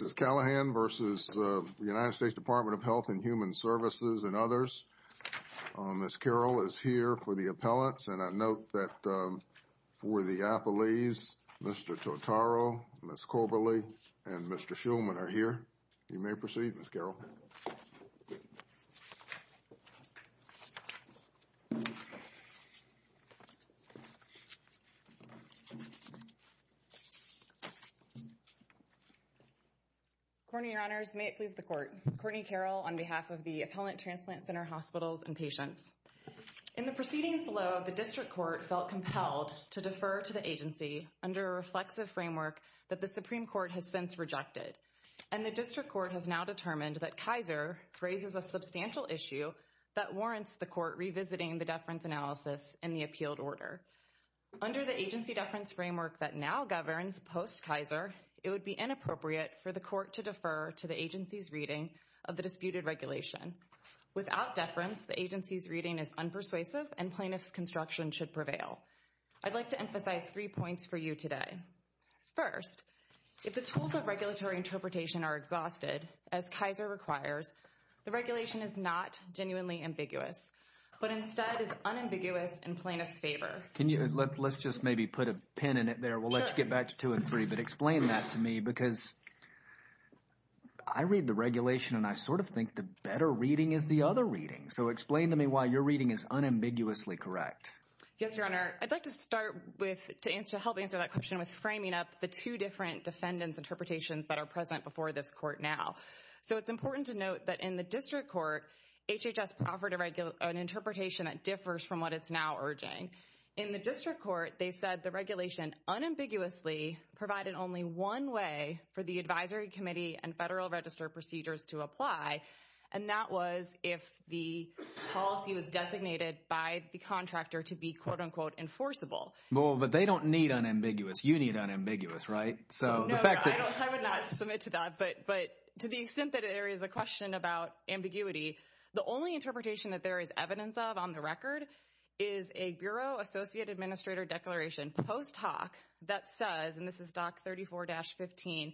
of Health and Human Services and others. Ms. Carroll is here for the appellates and I note that for the appellees, Mr. Totaro, Ms. Coberly, and Mr. Shulman are here. You may proceed, Ms. Carroll. Courtney, Your Honors, may it please the Court. Courtney Carroll on behalf of the Appellant Transplant Center Hospitals and Patients. In the proceedings below, the District Court felt compelled to defer to the agency under a reflexive framework that the Supreme Court has since rejected. And the District Court has now determined that Kaiser raises a substantial issue that warrants the Court revisiting the deference analysis in the appealed order. Under the agency deference framework that now governs post-Kaiser, it would be inappropriate for the Court to defer to the agency's reading of the disputed regulation. Without deference, the agency's reading is unpersuasive and plaintiff's construction should prevail. I'd like to The tools of regulatory interpretation are exhausted, as Kaiser requires. The regulation is not genuinely ambiguous, but instead is unambiguous in plaintiff's favor. Let's just maybe put a pin in it there. We'll let you get back to two and three, but explain that to me because I read the regulation and I sort of think the better reading is the other reading. So explain to me why your reading is unambiguously correct. Yes, Your Honor. I'd like to start with, to help answer that question with framing up the two different defendants' interpretations that are present before this Court now. So it's important to note that in the District Court, HHS offered an interpretation that differs from what it's now urging. In the District Court, they said the regulation unambiguously provided only one way for the Advisory Committee and Federal Register procedures to apply, and that was if the policy was designated by the contractor to be quote-unquote enforceable. Well, but they don't need unambiguous. You need unambiguous, right? No, I would not submit to that, but to the extent that there is a question about ambiguity, the only interpretation that there is evidence of on the record is a Bureau Associate Administrator Declaration post hoc that says, and this is Doc 34-15,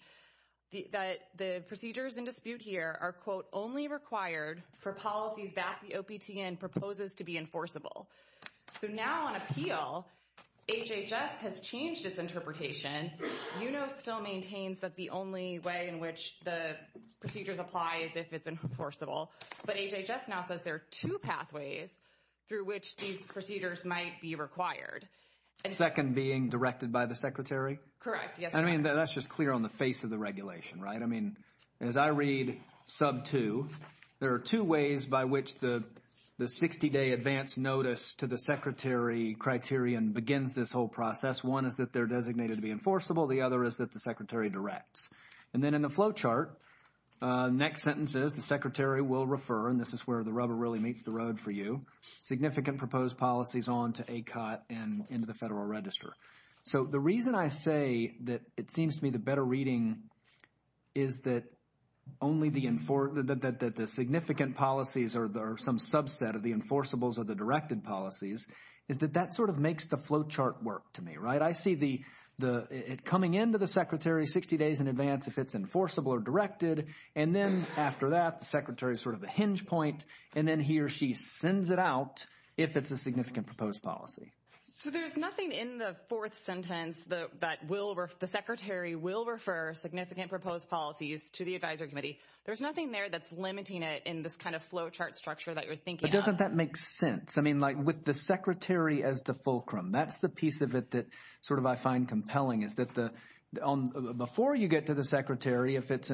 that the procedures in dispute here are quote only required for policies that the OPTN proposes to be enforceable. So now on appeal, HHS has changed its interpretation. UNO still maintains that the only way in which the procedures apply is if it's enforceable, but HHS now says there are two pathways through which these procedures might be required. Second being directed by the Secretary? Correct, yes. I mean, that's just clear on the face of the regulation, right? I mean, as I read sub 2, there are two ways by which the 60-day advance notice to the Secretary criterion begins this whole process. One is that they're designated to be enforceable. The other is that the Secretary directs. And then in the flow chart, next sentences, the Secretary will refer, and this is where the rubber really meets the road for you, significant proposed policies on to ACOT and into the Federal Register. So the reason I say that it seems to me the better reading is that only the significant policies are some subset of the enforceables or the directed policies is that that sort of makes the flow chart work to me, right? I see it coming into the Secretary 60 days in advance if it's enforceable or directed, and then after that, the Secretary is sort of a hinge point, and then he or she sends it out if it's a significant proposed policy. So there's nothing in the fourth sentence that the Secretary will refer significant proposed policies to the Advisory Committee. There's nothing there that's limiting it in this kind of flow chart structure that you're thinking of. But doesn't that make sense? I mean, like with the Secretary as the fulcrum, that's the piece of it that sort of I find compelling is that before you get to the Secretary, if it's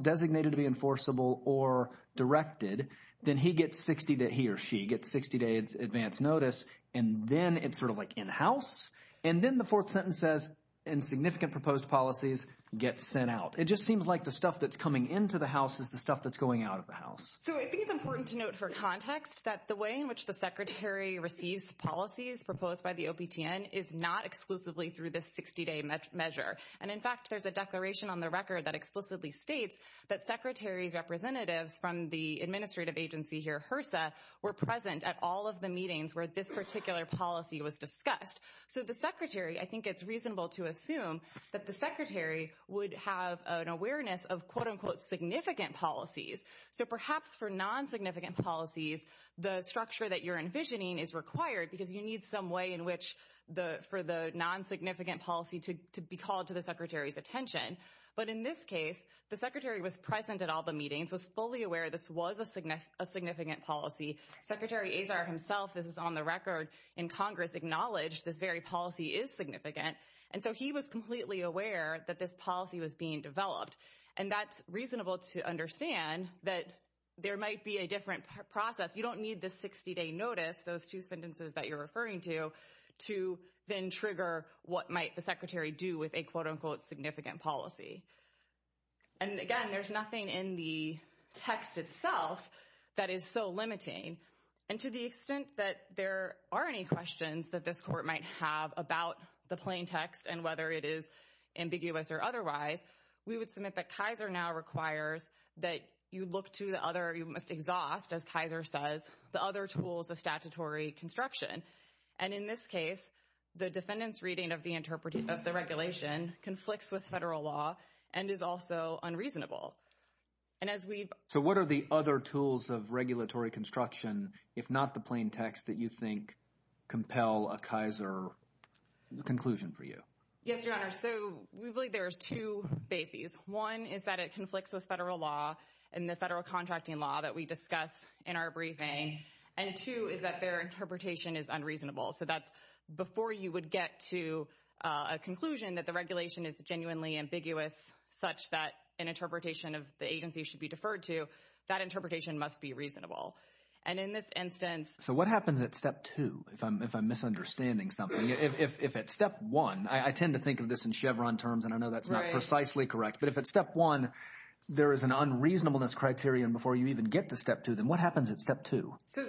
designated to be enforceable or directed, then he or she gets 60-day advance notice, and then it's sort of like in-house, and then the fourth sentence says insignificant proposed policies get sent out. It just seems like the stuff that's coming into the House is the stuff that's going out of the House. So I think it's important to note for context that the way in which the Secretary receives policies proposed by the OPTN is not exclusively through this 60-day measure. And in fact, there's a declaration on the record that explicitly states were present at all of the meetings where this particular policy was discussed. So the Secretary, I think it's reasonable to assume that the Secretary would have an awareness of quote-unquote significant policies. So perhaps for non-significant policies, the structure that you're envisioning is required because you need some way in which for the non-significant policy to be called to the Secretary's attention. But in this case, the Secretary was present at all the meetings, was fully aware this a significant policy. Secretary Azar himself, this is on the record in Congress, acknowledged this very policy is significant. And so he was completely aware that this policy was being developed. And that's reasonable to understand that there might be a different process. You don't need this 60-day notice, those two sentences that you're referring to, to then trigger what might the Secretary do with a quote-unquote significant policy. And again, there's nothing in the text itself that is so limiting. And to the extent that there are any questions that this court might have about the plain text and whether it is ambiguous or otherwise, we would submit that Kaiser now requires that you look to the other, you must exhaust, as Kaiser says, the other tools of statutory construction. And in this case, the defendant's reading of the regulation conflicts with federal law and is also unreasonable. And as we've... So what are the other tools of regulatory construction, if not the plain text, that you think compel a Kaiser conclusion for you? Yes, Your Honor. So we believe there's two bases. One is that it conflicts with federal law and the federal contracting law that we discuss in our briefing. And two is that their interpretation is unreasonable. So that's genuinely ambiguous such that an interpretation of the agency should be deferred to, that interpretation must be reasonable. And in this instance... So what happens at step two, if I'm misunderstanding something? If at step one, I tend to think of this in Chevron terms, and I know that's not precisely correct. But if at step one, there is an unreasonableness criterion before you even get to step two, then what happens at step two? So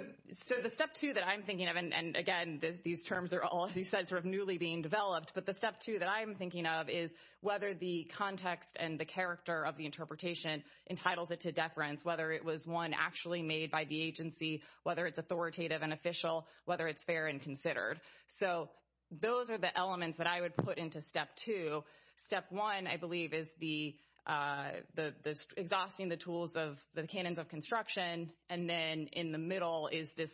the step two that I'm thinking of, and again, these terms are all, as you said, newly being developed. But the step two that I'm thinking of is whether the context and the character of the interpretation entitles it to deference, whether it was one actually made by the agency, whether it's authoritative and official, whether it's fair and considered. So those are the elements that I would put into step two. Step one, I believe, is the exhausting the tools of the canons of construction. And then in the middle is this,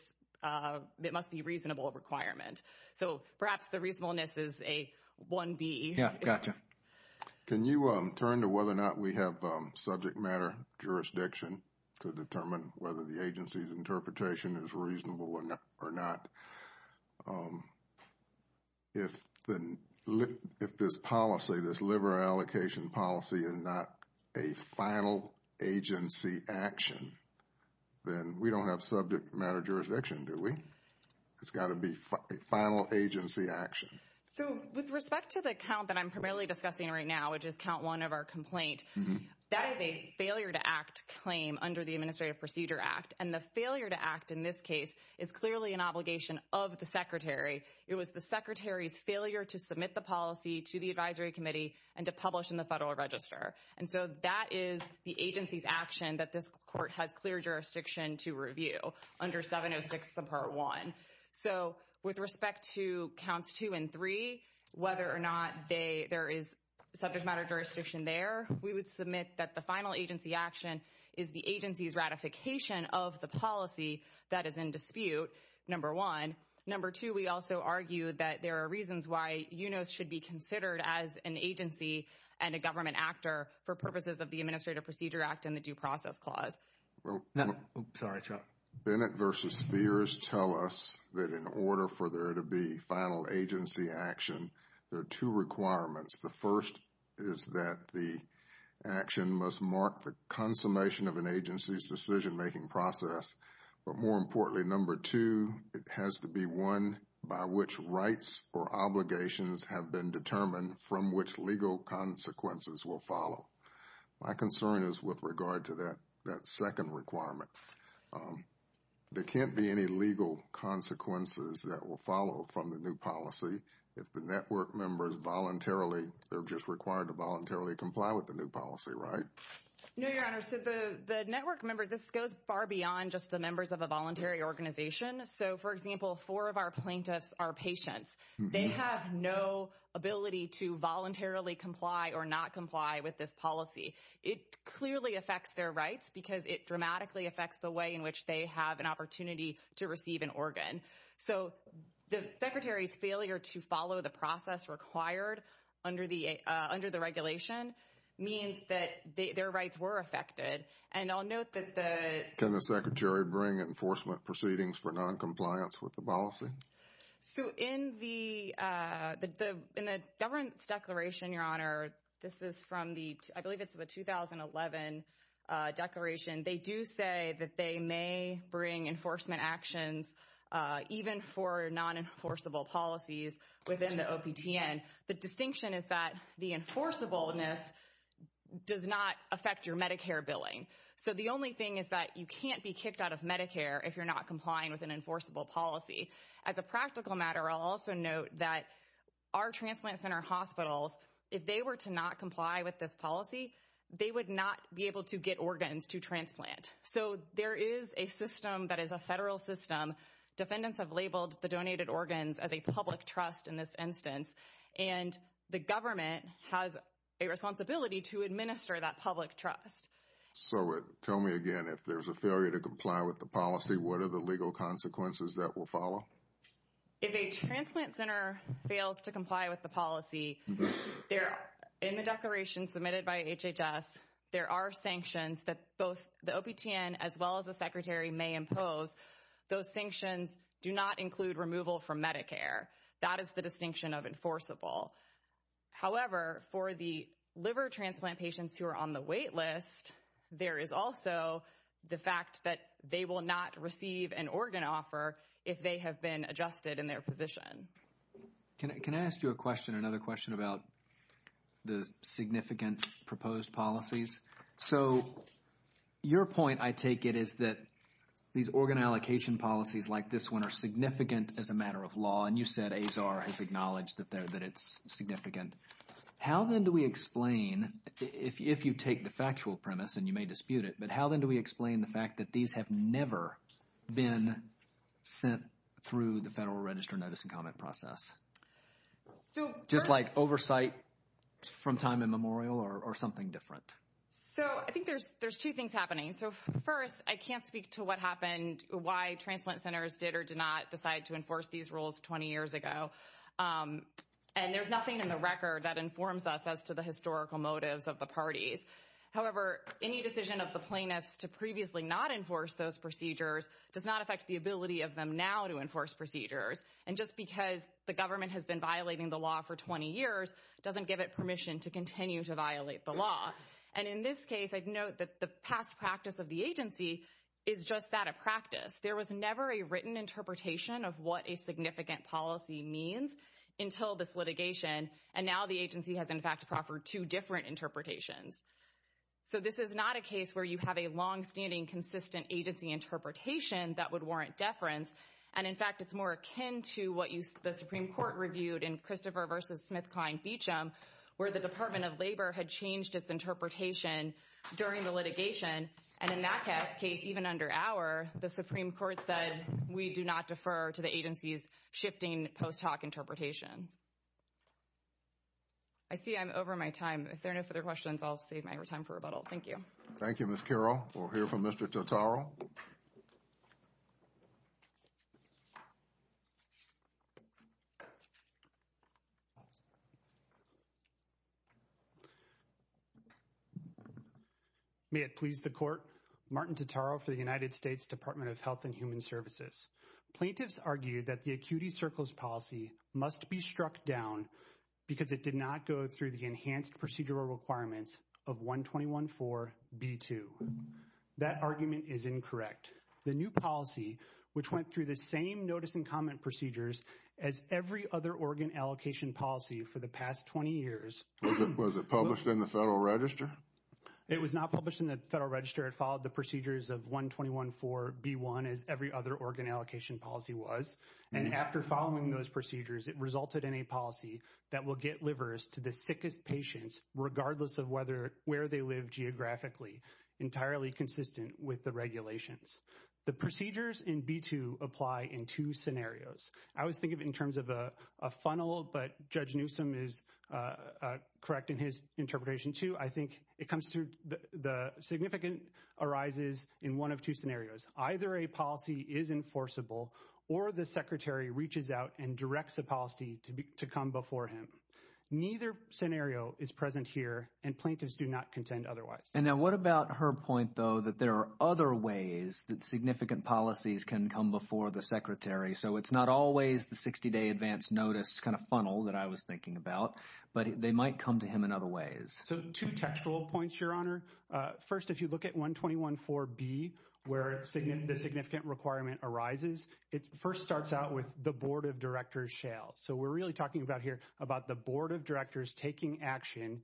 it must be reasonable requirement. So perhaps the reasonableness is a 1B. Yeah, gotcha. Can you turn to whether or not we have subject matter jurisdiction to determine whether the agency's interpretation is reasonable or not? If this policy, this liberal allocation policy is not a final agency action, then we don't have subject matter jurisdiction, do we? It's got to be a final agency action. So with respect to the count that I'm primarily discussing right now, which is count one of our complaint, that is a failure to act claim under the Administrative Procedure Act. And the failure to act in this case is clearly an obligation of the Secretary. It was the Secretary's failure to submit the policy to the Advisory Committee and to publish in the Federal Register. And so that is the agency's action that this court has clear jurisdiction to review under 706 subpart one. So with respect to counts two and three, whether or not there is subject matter jurisdiction there, we would submit that the final agency action is the agency's ratification of the policy that is in dispute, number one. Number two, we also argue that there are reasons why UNOS should be considered as an agency and a government actor for purposes of the Administrative Procedure Act and the Due Process Clause. Sorry, Chuck. Bennett versus Spears tell us that in order for there to be final agency action, there are two requirements. The first is that the action must mark the consummation of an agency's decision making process. But more importantly, number two, it has to be one by which rights or obligations have been determined from which legal consequences will follow. My concern is with regard to that second requirement. There can't be any legal consequences that will follow from the new policy if the network members voluntarily, they're just required to voluntarily comply with the new policy, right? No, Your Honor. So the network members, this goes far beyond just the members of a voluntary organization. So for example, four of our plaintiffs are patients. They have no ability to voluntarily comply or not comply with this policy. It clearly affects their rights because it dramatically affects the way in which they have an opportunity to receive an organ. So the Secretary's failure to follow the process required under the regulation means that their rights were affected. And I'll note that the... Can the Secretary bring enforcement proceedings for non-compliance with the policy? So in the, in the governance declaration, Your Honor, this is from the, I believe it's the 2011 declaration. They do say that they may bring enforcement actions even for non-enforceable policies within the OPTN. The distinction is that the enforceableness does not affect your Medicare billing. So the only thing is that you can't be kicked out of Medicare if you're not complying with an enforceable policy. As a practical matter, I'll also note that our transplant center hospitals, if they were to not comply with this policy, they would not be able to get organs to transplant. So there is a system that is a federal system. Defendants have labeled the donated organs as a public trust in this has a responsibility to administer that public trust. So tell me again, if there's a failure to comply with the policy, what are the legal consequences that will follow? If a transplant center fails to comply with the policy, there, in the declaration submitted by HHS, there are sanctions that both the OPTN as well as the Secretary may impose. Those sanctions do not for the liver transplant patients who are on the wait list. There is also the fact that they will not receive an organ offer if they have been adjusted in their position. Can I ask you a question, another question about the significant proposed policies? So your point, I take it, is that these organ allocation policies like this one are significant as a matter of law. And you said has acknowledged that it's significant. How then do we explain, if you take the factual premise, and you may dispute it, but how then do we explain the fact that these have never been sent through the Federal Register notice and comment process? Just like oversight from time immemorial or something different? So I think there's two things happening. So first, I can't speak to what did or did not decide to enforce these rules 20 years ago. And there's nothing in the record that informs us as to the historical motives of the parties. However, any decision of the plaintiffs to previously not enforce those procedures does not affect the ability of them now to enforce procedures. And just because the government has been violating the law for 20 years doesn't give it permission to continue to violate the law. And in this case, I'd note that the past practice of the agency is just that of practice. There was never a written interpretation of what a significant policy means until this litigation. And now the agency has, in fact, proffered two different interpretations. So this is not a case where you have a long-standing, consistent agency interpretation that would warrant deference. And in fact, it's more akin to what the Supreme Court reviewed in Christopher v. SmithKline-Beacham, where the Department of Labor had changed its case even under our, the Supreme Court said, we do not defer to the agency's shifting post hoc interpretation. I see I'm over my time. If there are no further questions, I'll save my time for rebuttal. Thank you. Thank you, Ms. Carroll. We'll hear from Mr. Totaro. May it please the Court. Martin Totaro for the United States Department of Health and Human Services. Plaintiffs argued that the Acuity Circles policy must be struck down because it did not go through the enhanced procedural requirements of 121.4.B.2. That argument is incorrect. The new policy, which went through the same notice and comment procedures as every other organ allocation policy for the past 20 years. Was it published in the Federal Register? It was not published in the Federal Register. It followed the procedures of 121.4.B.1 as every other organ allocation policy was. And after following those procedures, it resulted in a the sickest patients, regardless of whether, where they live geographically, entirely consistent with the regulations. The procedures in B.2 apply in two scenarios. I was thinking in terms of a funnel, but Judge Newsom is correct in his interpretation too. I think it comes through, the significant arises in one of two scenarios. Either a policy is enforceable or the Secretary reaches out and scenario is present here and plaintiffs do not contend otherwise. And now what about her point though, that there are other ways that significant policies can come before the Secretary. So it's not always the 60-day advance notice kind of funnel that I was thinking about, but they might come to him in other ways. So two textual points, Your Honor. First, if you look at 121.4.B. where the significant requirement arises, it first starts out with the Board of Directors shall. So we're really talking about here about the Board of Directors taking action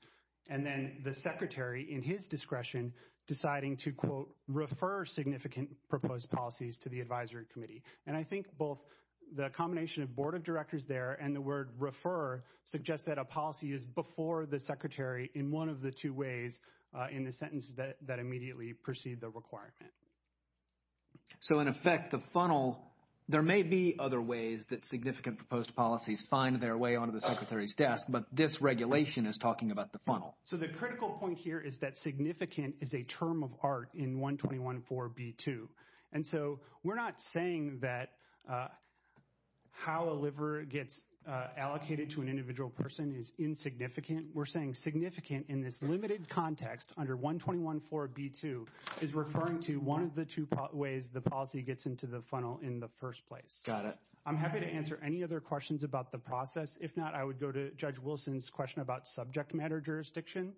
and then the Secretary, in his discretion, deciding to, quote, refer significant proposed policies to the Advisory Committee. And I think both the combination of Board of Directors there and the word refer suggest that a policy is before the Secretary in one of the two ways in the sentence that immediately precede the requirement. So in effect, the funnel, there may be other ways that significant proposed policies find their way onto the Secretary's desk, but this regulation is talking about the funnel. So the critical point here is that significant is a term of art in 121.4.B.2. And so we're not saying that how a liver gets allocated to an individual person is insignificant. We're saying significant in this limited context under 121.4.B.2 is referring to one of the two ways the policy gets into the funnel in the first place. Got it. I'm happy to answer any other questions about the process. If not, I would go to Judge Wilson's question about subject matter jurisdiction.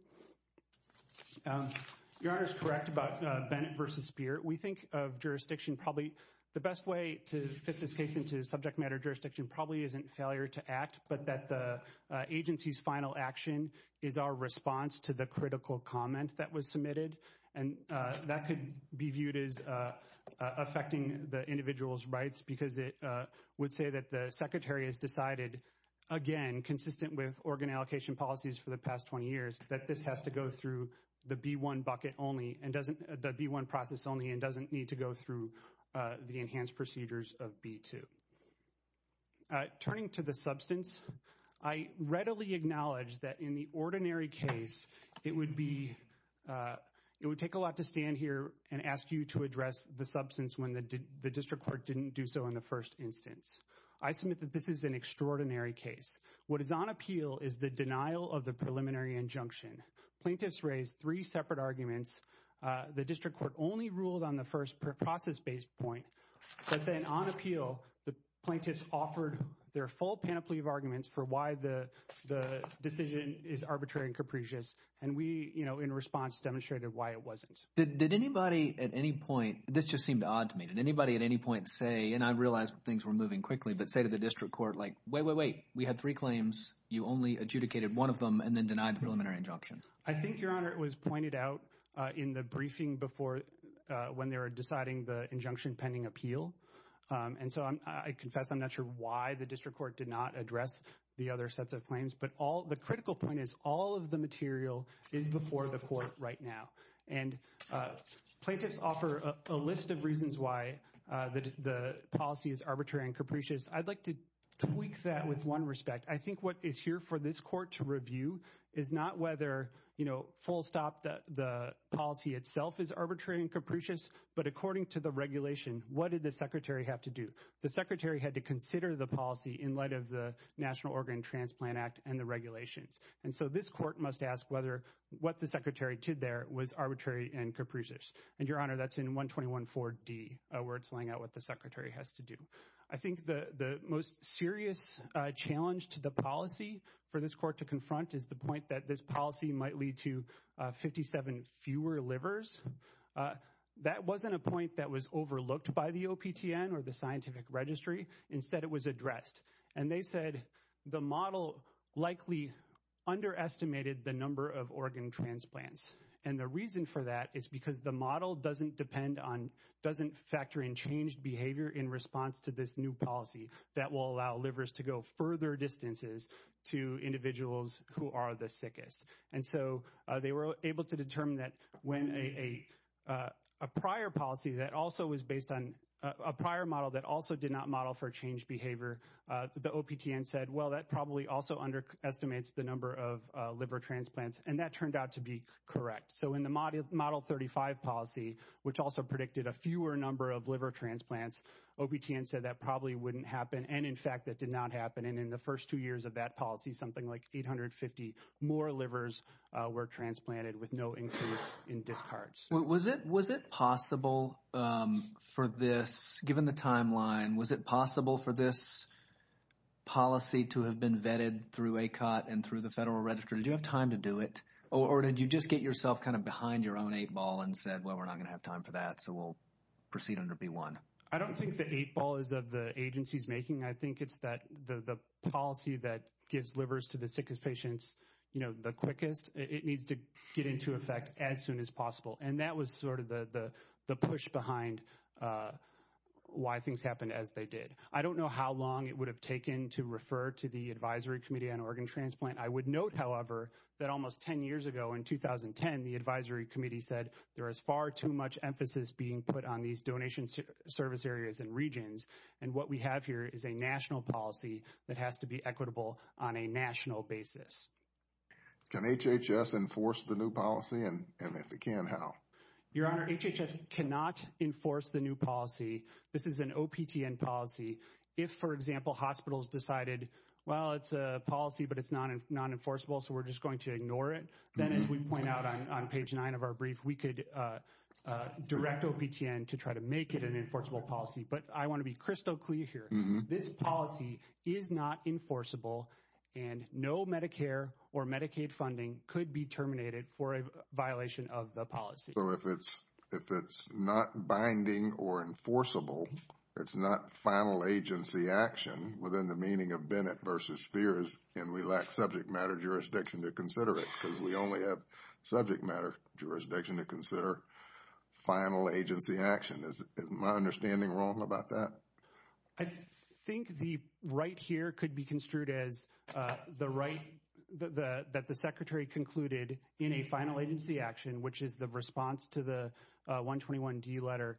Your Honor is correct about Bennett v. Speer. We think of jurisdiction probably, the best way to fit this case into subject matter jurisdiction probably isn't failure to act, but that the agency's final action is our response to the critical comment that was submitted. And that could be viewed as affecting the individual's rights because it would say that the Secretary has decided, again, consistent with organ allocation policies for the past 20 years, that this has to go through the B-1 bucket only and doesn't, the B-1 process only and doesn't need to go through the enhanced procedures of B-2. Turning to the substance, I readily acknowledge that in the ordinary case, it would be, it would take a lot to stand here and ask you to address the substance when the district court didn't do so in the first instance. I submit that this is an extraordinary case. What is on appeal is the denial of the preliminary injunction. Plaintiffs raised three separate arguments. The district court only ruled on the first process-based point, but then on appeal, the plaintiffs offered their full panoply of arguments for why the decision is arbitrary and capricious, and we, you know, in response demonstrated why it wasn't. Did anybody at any point, this just seemed odd to me, did anybody at any point say, and I realize things were moving quickly, but say to the district court, like, wait, wait, wait, we had three claims, you only adjudicated one of them and then denied the preliminary injunction? I think, Your Honor, it was pointed out in the briefing before, when they were deciding the injunction pending appeal, and so I confess I'm not sure why the district court did not address the other sets of claims, but the critical point is all of the material is before the court right now, and plaintiffs offer a list of reasons why the policy is arbitrary and capricious. I'd like to tweak that with one respect. I think what is here for this court to review is not whether, you know, full stop, the policy itself is arbitrary and capricious, but according to the regulation, what did the secretary have to do? The secretary had to consider the policy in light of the Organ Transplant Act and the regulations, and so this court must ask whether what the secretary did there was arbitrary and capricious, and, Your Honor, that's in 121-4-D, where it's laying out what the secretary has to do. I think the most serious challenge to the policy for this court to confront is the point that this policy might lead to 57 fewer livers. That wasn't a point that was overlooked by the OPTN or the scientific registry. Instead, it was addressed, and they said the model likely underestimated the number of organ transplants, and the reason for that is because the model doesn't depend on, doesn't factor in changed behavior in response to this new policy that will allow livers to go further distances to individuals who are the sickest, and so they were able to determine that when a prior policy that also was based on a prior model that also did not model for changed behavior, the OPTN said, well, that probably also underestimates the number of liver transplants, and that turned out to be correct, so in the Model 35 policy, which also predicted a fewer number of liver transplants, OPTN said that probably wouldn't happen, and, in fact, that did not happen, and in the first two years of that policy, something like 850 more livers were transplanted with no increase in discharge. Was it possible for this, given the timeline, was it possible for this policy to have been vetted through ACOT and through the Federal Registry? Did you have time to do it, or did you just get yourself kind of behind your own eight ball and said, well, we're not going to have time for that, so we'll proceed under B1? I don't think the eight ball is of the agency's making. I think it's that the policy that gives livers to the sickest patients, you know, the quickest, it needs to get into effect as quickly as possible. I don't know how long it would have taken to refer to the Advisory Committee on Organ Transplant. I would note, however, that almost 10 years ago, in 2010, the Advisory Committee said there is far too much emphasis being put on these donation service areas and regions, and what we have here is a national policy that has to be equitable on a national basis. Can HHS enforce the new policy, and if it can, how? Your Honor, HHS cannot enforce the new policy. This is an OPTN policy. If, for example, hospitals decided, well, it's a policy, but it's non-enforceable, so we're just going to ignore it, then, as we point out on page 9 of our brief, we could direct OPTN to try to make it an enforceable policy, but I want to be crystal clear here. This policy is not enforceable, and no Medicare or Medicaid funding could be terminated for a violation of the policy. So, if it's not binding or enforceable, it's not final agency action within the meaning of Bennett v. Spears, and we lack subject matter jurisdiction to consider it, because we only have subject matter jurisdiction to consider final agency action. Is my understanding wrong about that? I think the right here could be concluded in a final agency action, which is the response to the 121D letter,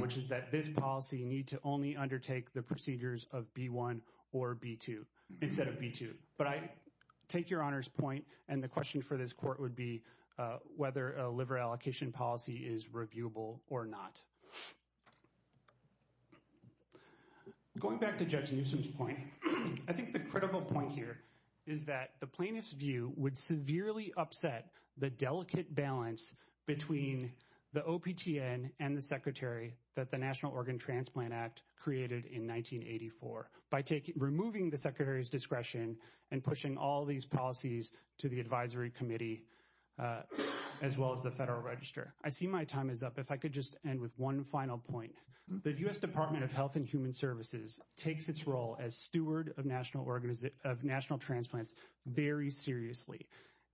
which is that this policy need to only undertake the procedures of B-1 or B-2, instead of B-2. But I take your Honor's point, and the question for this court would be whether a liver allocation policy is reviewable or not. Going back to Judge Newsom's point, I think the critical point here is that plaintiff's view would severely upset the delicate balance between the OPTN and the Secretary that the National Organ Transplant Act created in 1984, by removing the Secretary's discretion and pushing all these policies to the Advisory Committee, as well as the Federal Register. I see my time is up. If I could just end with one final point. The U.S. Department of Health and Human Services took this very seriously,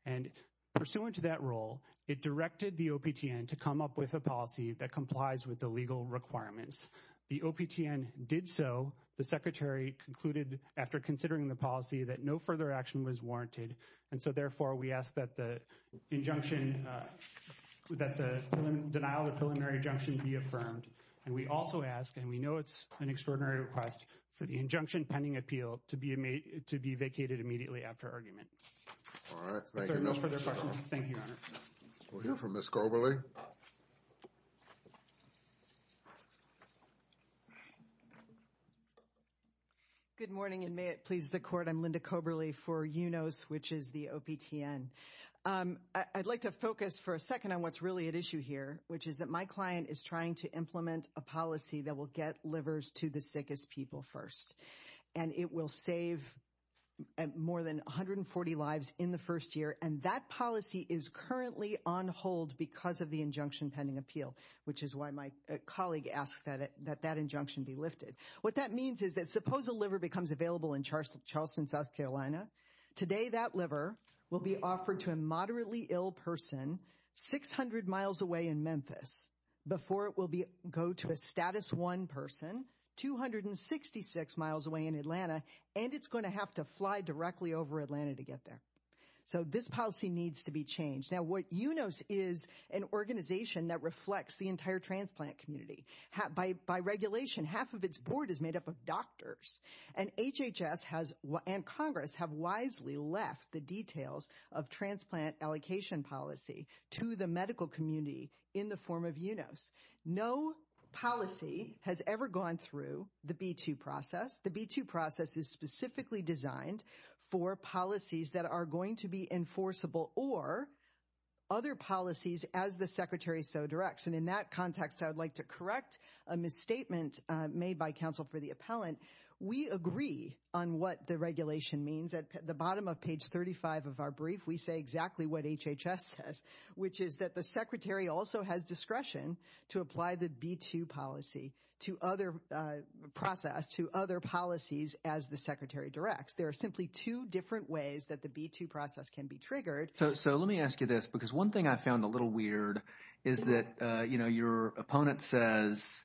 and pursuant to that role, it directed the OPTN to come up with a policy that complies with the legal requirements. The OPTN did so. The Secretary concluded after considering the policy that no further action was warranted, and so therefore we ask that the injunction, that the denial of preliminary injunction be affirmed. And we also ask, and we know it's an extraordinary request, for the injunction pending appeal to be vacated immediately after argument. All right, thank you. No further questions. Thank you, Your Honor. We'll hear from Ms. Koberly. Good morning, and may it please the Court. I'm Linda Koberly for UNOS, which is the OPTN. I'd like to focus for a second on what's really at issue here, which is that my client is trying to implement a policy that will get livers to the sickest people first, and it will save more than 140 lives in the first year. And that policy is currently on hold because of the injunction pending appeal, which is why my colleague asked that that injunction be lifted. What that means is that suppose a liver becomes available in Charleston, South Carolina. Today, that liver will be offered to a moderately ill person 600 miles away in Memphis before it go to a status one person 266 miles away in Atlanta, and it's going to have to fly directly over Atlanta to get there. So this policy needs to be changed. Now, what UNOS is an organization that reflects the entire transplant community. By regulation, half of its board is made up of doctors. And HHS has, and Congress, have wisely left the details of transplant allocation policy to the medical community in the form of UNOS. No policy has ever gone through the B-2 process. The B-2 process is specifically designed for policies that are going to be enforceable or other policies as the secretary so directs. And in that context, I would like to correct a misstatement made by counsel for the appellant. We agree on what the regulation means. At the which is that the secretary also has discretion to apply the B-2 policy to other process to other policies as the secretary directs. There are simply two different ways that the B-2 process can be triggered. So let me ask you this, because one thing I found a little weird is that, you know, your opponent says,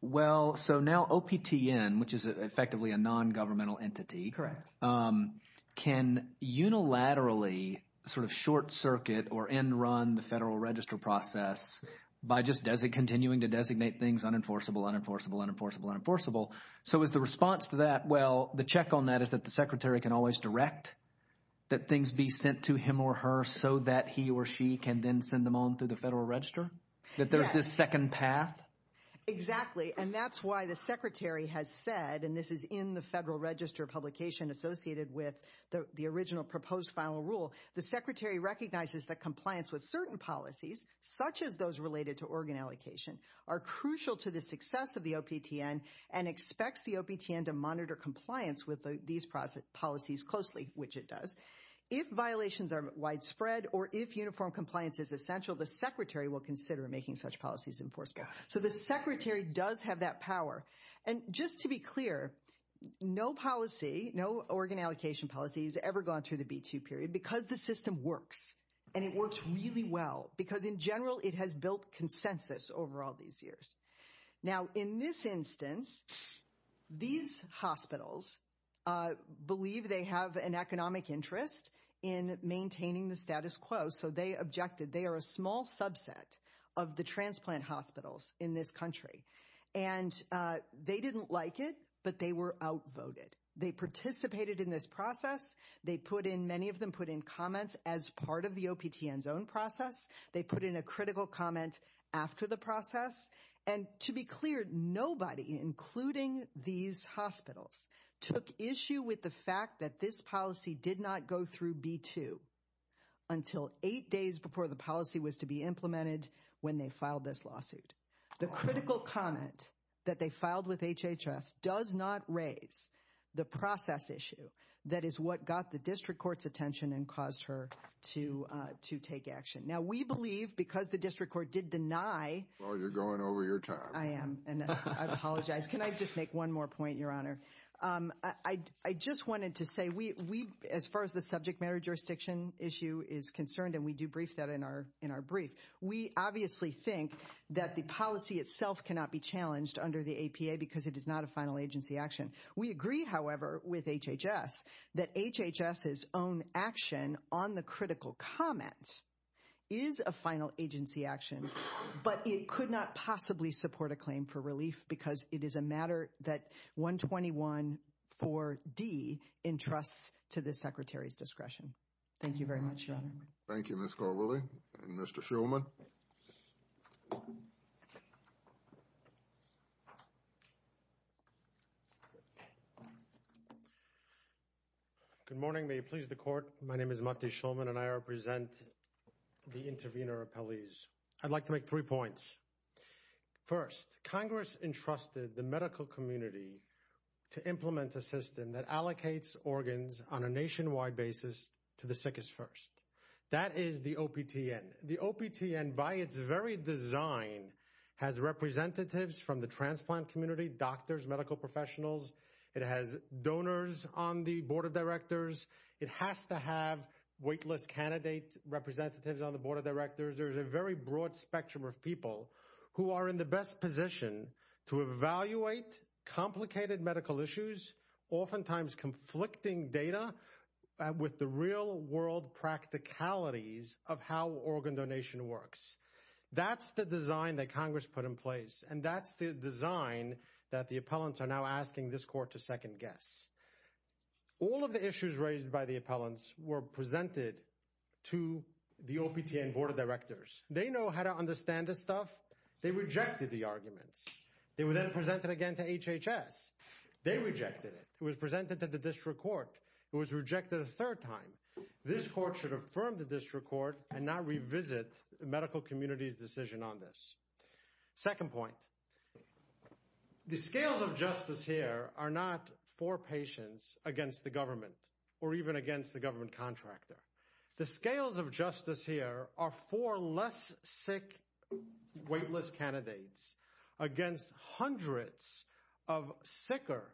well, so now OPTN, which is effectively a non-governmental entity, can unilaterally sort of short circuit or end run the federal register process by just continuing to designate things unenforceable, unenforceable, unenforceable, unenforceable. So is the response to that, well, the check on that is that the secretary can always direct that things be sent to him or her so that he or she can then send them on through the federal register? That there's this second path? Exactly. And that's why the secretary has said, and this is in the federal register publication associated with the original proposed final rule, the secretary recognizes that compliance with certain policies, such as those related to organ allocation, are crucial to the success of the OPTN and expects the OPTN to monitor compliance with these policies closely, which it does. If violations are widespread or if uniform compliance is essential, the secretary will consider making such policies enforceable. So the secretary does have that power. And just to be clear, no policy, no organ allocation policy has ever gone through the B-2 period because the system works. And it works really well because in general, it has built consensus over all these years. Now, in this instance, these hospitals believe they have an economic interest in maintaining the status quo. So they objected. They are a small subset of the they didn't like it, but they were outvoted. They participated in this process. They put in, many of them put in comments as part of the OPTN's own process. They put in a critical comment after the process. And to be clear, nobody, including these hospitals, took issue with the fact that this policy did not go through B-2 until eight days before the policy was to be implemented when they filed this lawsuit. The critical comment that they filed with HHS does not raise the process issue. That is what got the district court's attention and caused her to take action. Now, we believe because the district court did deny. Well, you're going over your time. I am. And I apologize. Can I just make one more point, Your Honor? I just wanted to say we, as far as the subject matter jurisdiction issue is concerned, and we do brief that in our brief, we obviously think that the policy itself cannot be challenged under the APA because it is not a final agency action. We agree, however, with HHS that HHS's own action on the critical comment is a final agency action, but it could not possibly support a claim for relief because it is a matter that 121-4D entrusts to the Secretary's discretion. Thank you very much, Your Honor. Thank you, Ms. Caldwelly. And Mr. Shulman. Good morning. May it please the Court. My name is Mati Shulman, and I represent the intervener appellees. I'd like to make three points. First, Congress entrusted the medical community to implement a system that allocates organs on a nationwide basis to the sickest first. That is the OPTN. The OPTN, by its very design, has representatives from the transplant community, doctors, medical professionals. It has donors on the Board of Directors. It has to have weightless candidate representatives on the Board of Directors. There's a very broad spectrum of people who are in the best position to evaluate complicated medical issues, oftentimes conflicting data with the real-world practicalities of how organ donation works. That's the design that Congress put in place, and that's the design that the appellants are now asking this Court to second guess. All of the issues raised by the appellants were presented to the OPTN Board of Directors. They know how to understand this stuff. They rejected the arguments. They were then presented again to HHS. They rejected it. It was presented to the District Court. It was rejected a third time. This Court should affirm the District Court and not revisit the medical community's decision on this. Second point, the scales of justice here are not for patients against the government or even against the government contractor. The scales of justice here are for less sick, weightless candidates against hundreds of sicker,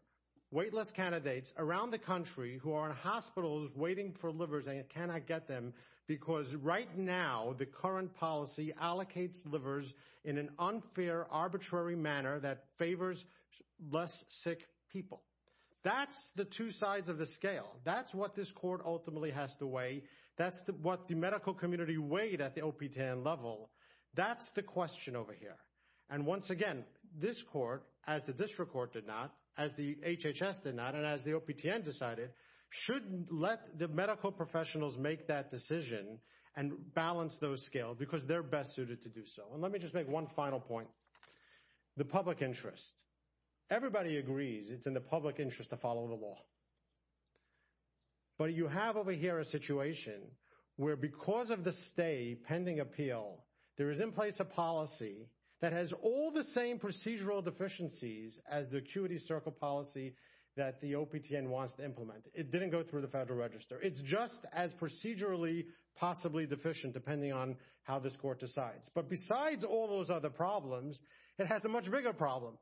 weightless candidates around the country who are in hospitals waiting for livers and cannot get them because right now the current policy allocates livers in an unfair, arbitrary manner that favors less sick people. That's the two sides of the scale. That's what this Court ultimately has to weigh. That's what the medical community weighed at the Once again, this Court, as the District Court did not, as the HHS did not, and as the OPTN decided, should let the medical professionals make that decision and balance those scales because they're best suited to do so. Let me just make one final point. The public interest. Everybody agrees it's in the public interest to follow the law. But you have over here a situation where because of the pending appeal, there is in place a policy that has all the same procedural deficiencies as the acuity circle policy that the OPTN wants to implement. It didn't go through the Federal Register. It's just as procedurally possibly deficient depending on how this Court decides. But besides all those other problems, it has a much bigger problem.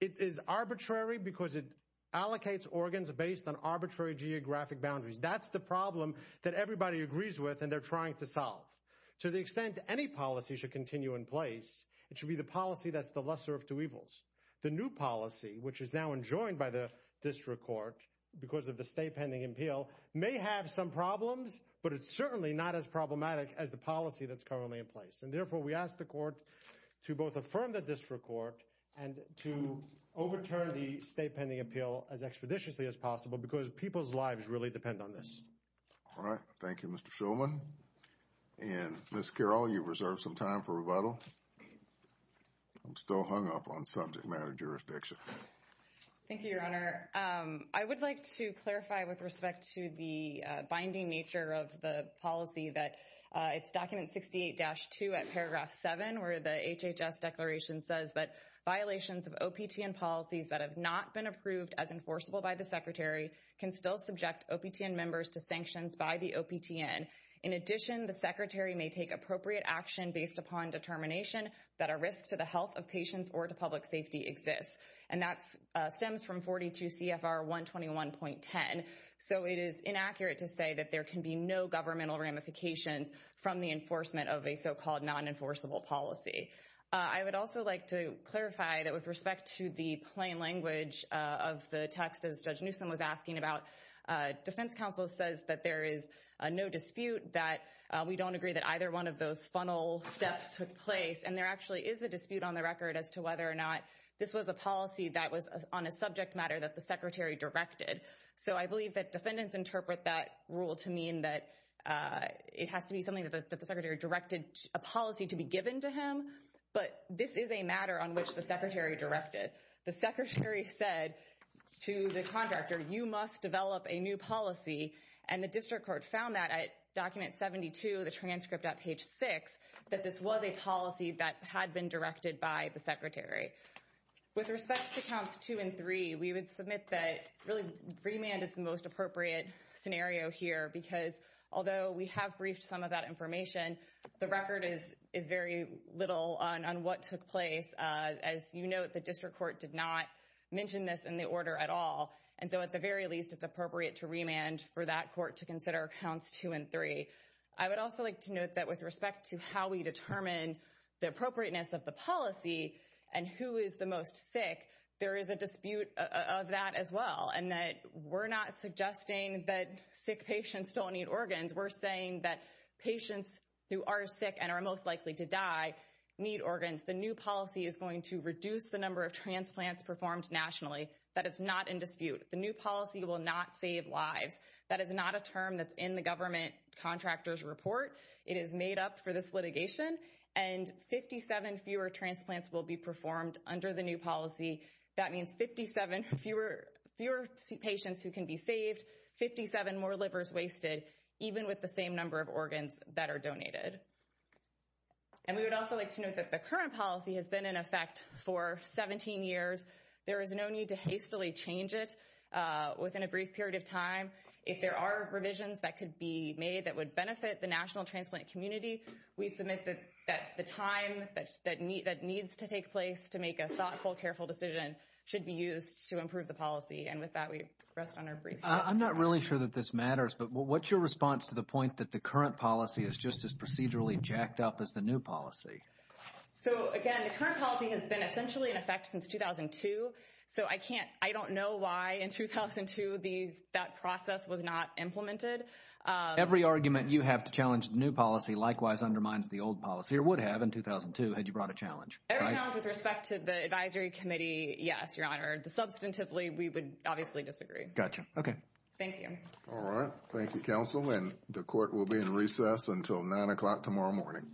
It is arbitrary because it allocates organs based on arbitrary geographic boundaries. That's the problem that everybody agrees with and they're trying to solve. To the extent any policy should continue in place, it should be the policy that's the lesser of two evils. The new policy, which is now enjoined by the District Court because of the stay pending appeal, may have some problems, but it's certainly not as problematic as the policy that's currently in place. And therefore, we ask the Court to both affirm the District Court and to overturn the stay pending appeal as extraditiously as possible because people's lives really depend on this. All right. Thank you, Mr. Shulman. And Ms. Carroll, you've reserved some time for rebuttal. I'm still hung up on subject matter jurisdiction. Thank you, Your Honor. I would like to clarify with respect to the binding nature of the policy that it's document 68-2 at paragraph 7 where the HHS declaration says that violations of OPTN can still subject OPTN members to sanctions by the OPTN. In addition, the Secretary may take appropriate action based upon determination that a risk to the health of patients or to public safety exists. And that stems from 42 CFR 121.10. So it is inaccurate to say that there can be no governmental ramifications from the enforcement of a so-called non-enforceable policy. I would also like to clarify that with respect to the plain language of the text, as Judge Newsom was asking about, defense counsel says that there is no dispute that we don't agree that either one of those funnel steps took place. And there actually is a dispute on the record as to whether or not this was a policy that was on a subject matter that the Secretary directed. So I believe that defendants interpret that rule to mean that it has to be something that the Secretary directed a policy to be given to him. But this is a matter on which the Secretary directed. The Secretary said to the contractor, you must develop a new policy. And the district court found that at document 72, the transcript at page six, that this was a policy that had been directed by the Secretary. With respect to counts two and three, we would submit that really remand is the most appropriate scenario here because although we have briefed some of that information, the record is very little on what took place. As you note, the district court did not mention this in the order at all. And so at the very least, it's appropriate to remand for that court to consider counts two and three. I would also like to note that with respect to how we determine the appropriateness of the policy and who is the most sick, there is a dispute of that as well. And that we're not suggesting that sick patients don't need organs. We're saying that patients who are sick and are most likely to die need organs. The new policy is going to reduce the number of transplants performed nationally. That is not in dispute. The new policy will not save lives. That is not a term that's in the government contractor's report. It is made up for this litigation. And 57 fewer transplants will be performed under the new policy. That means 57 fewer patients who can be saved, 57 more livers wasted, even with the same number of organs that are donated. And we would also like to note that the current policy has been in effect for 17 years. There is no need to hastily change it within a brief period of time. If there are revisions that could be made that would benefit the national transplant community, we submit that the time that needs to take place to make a thoughtful, careful decision should be used to improve the policy. And with that, we rest on our briefs. I'm not really sure that this matters, but what's your response to the point that the current policy is just as procedurally jacked up as the new policy? So again, the current policy has been essentially in effect since 2002. So I can't, I don't know why in 2002 that process was not implemented. Every argument you have to challenge the new policy likewise undermines the old policy, or would have in 2002, had you brought a challenge. Every challenge with respect to the advisory committee, yes, your honor. Substantively, we would obviously disagree. Gotcha. Okay. Thank you. All right. Thank you, counsel. And the court will be in recess until 9 o'clock tomorrow morning. Thank you.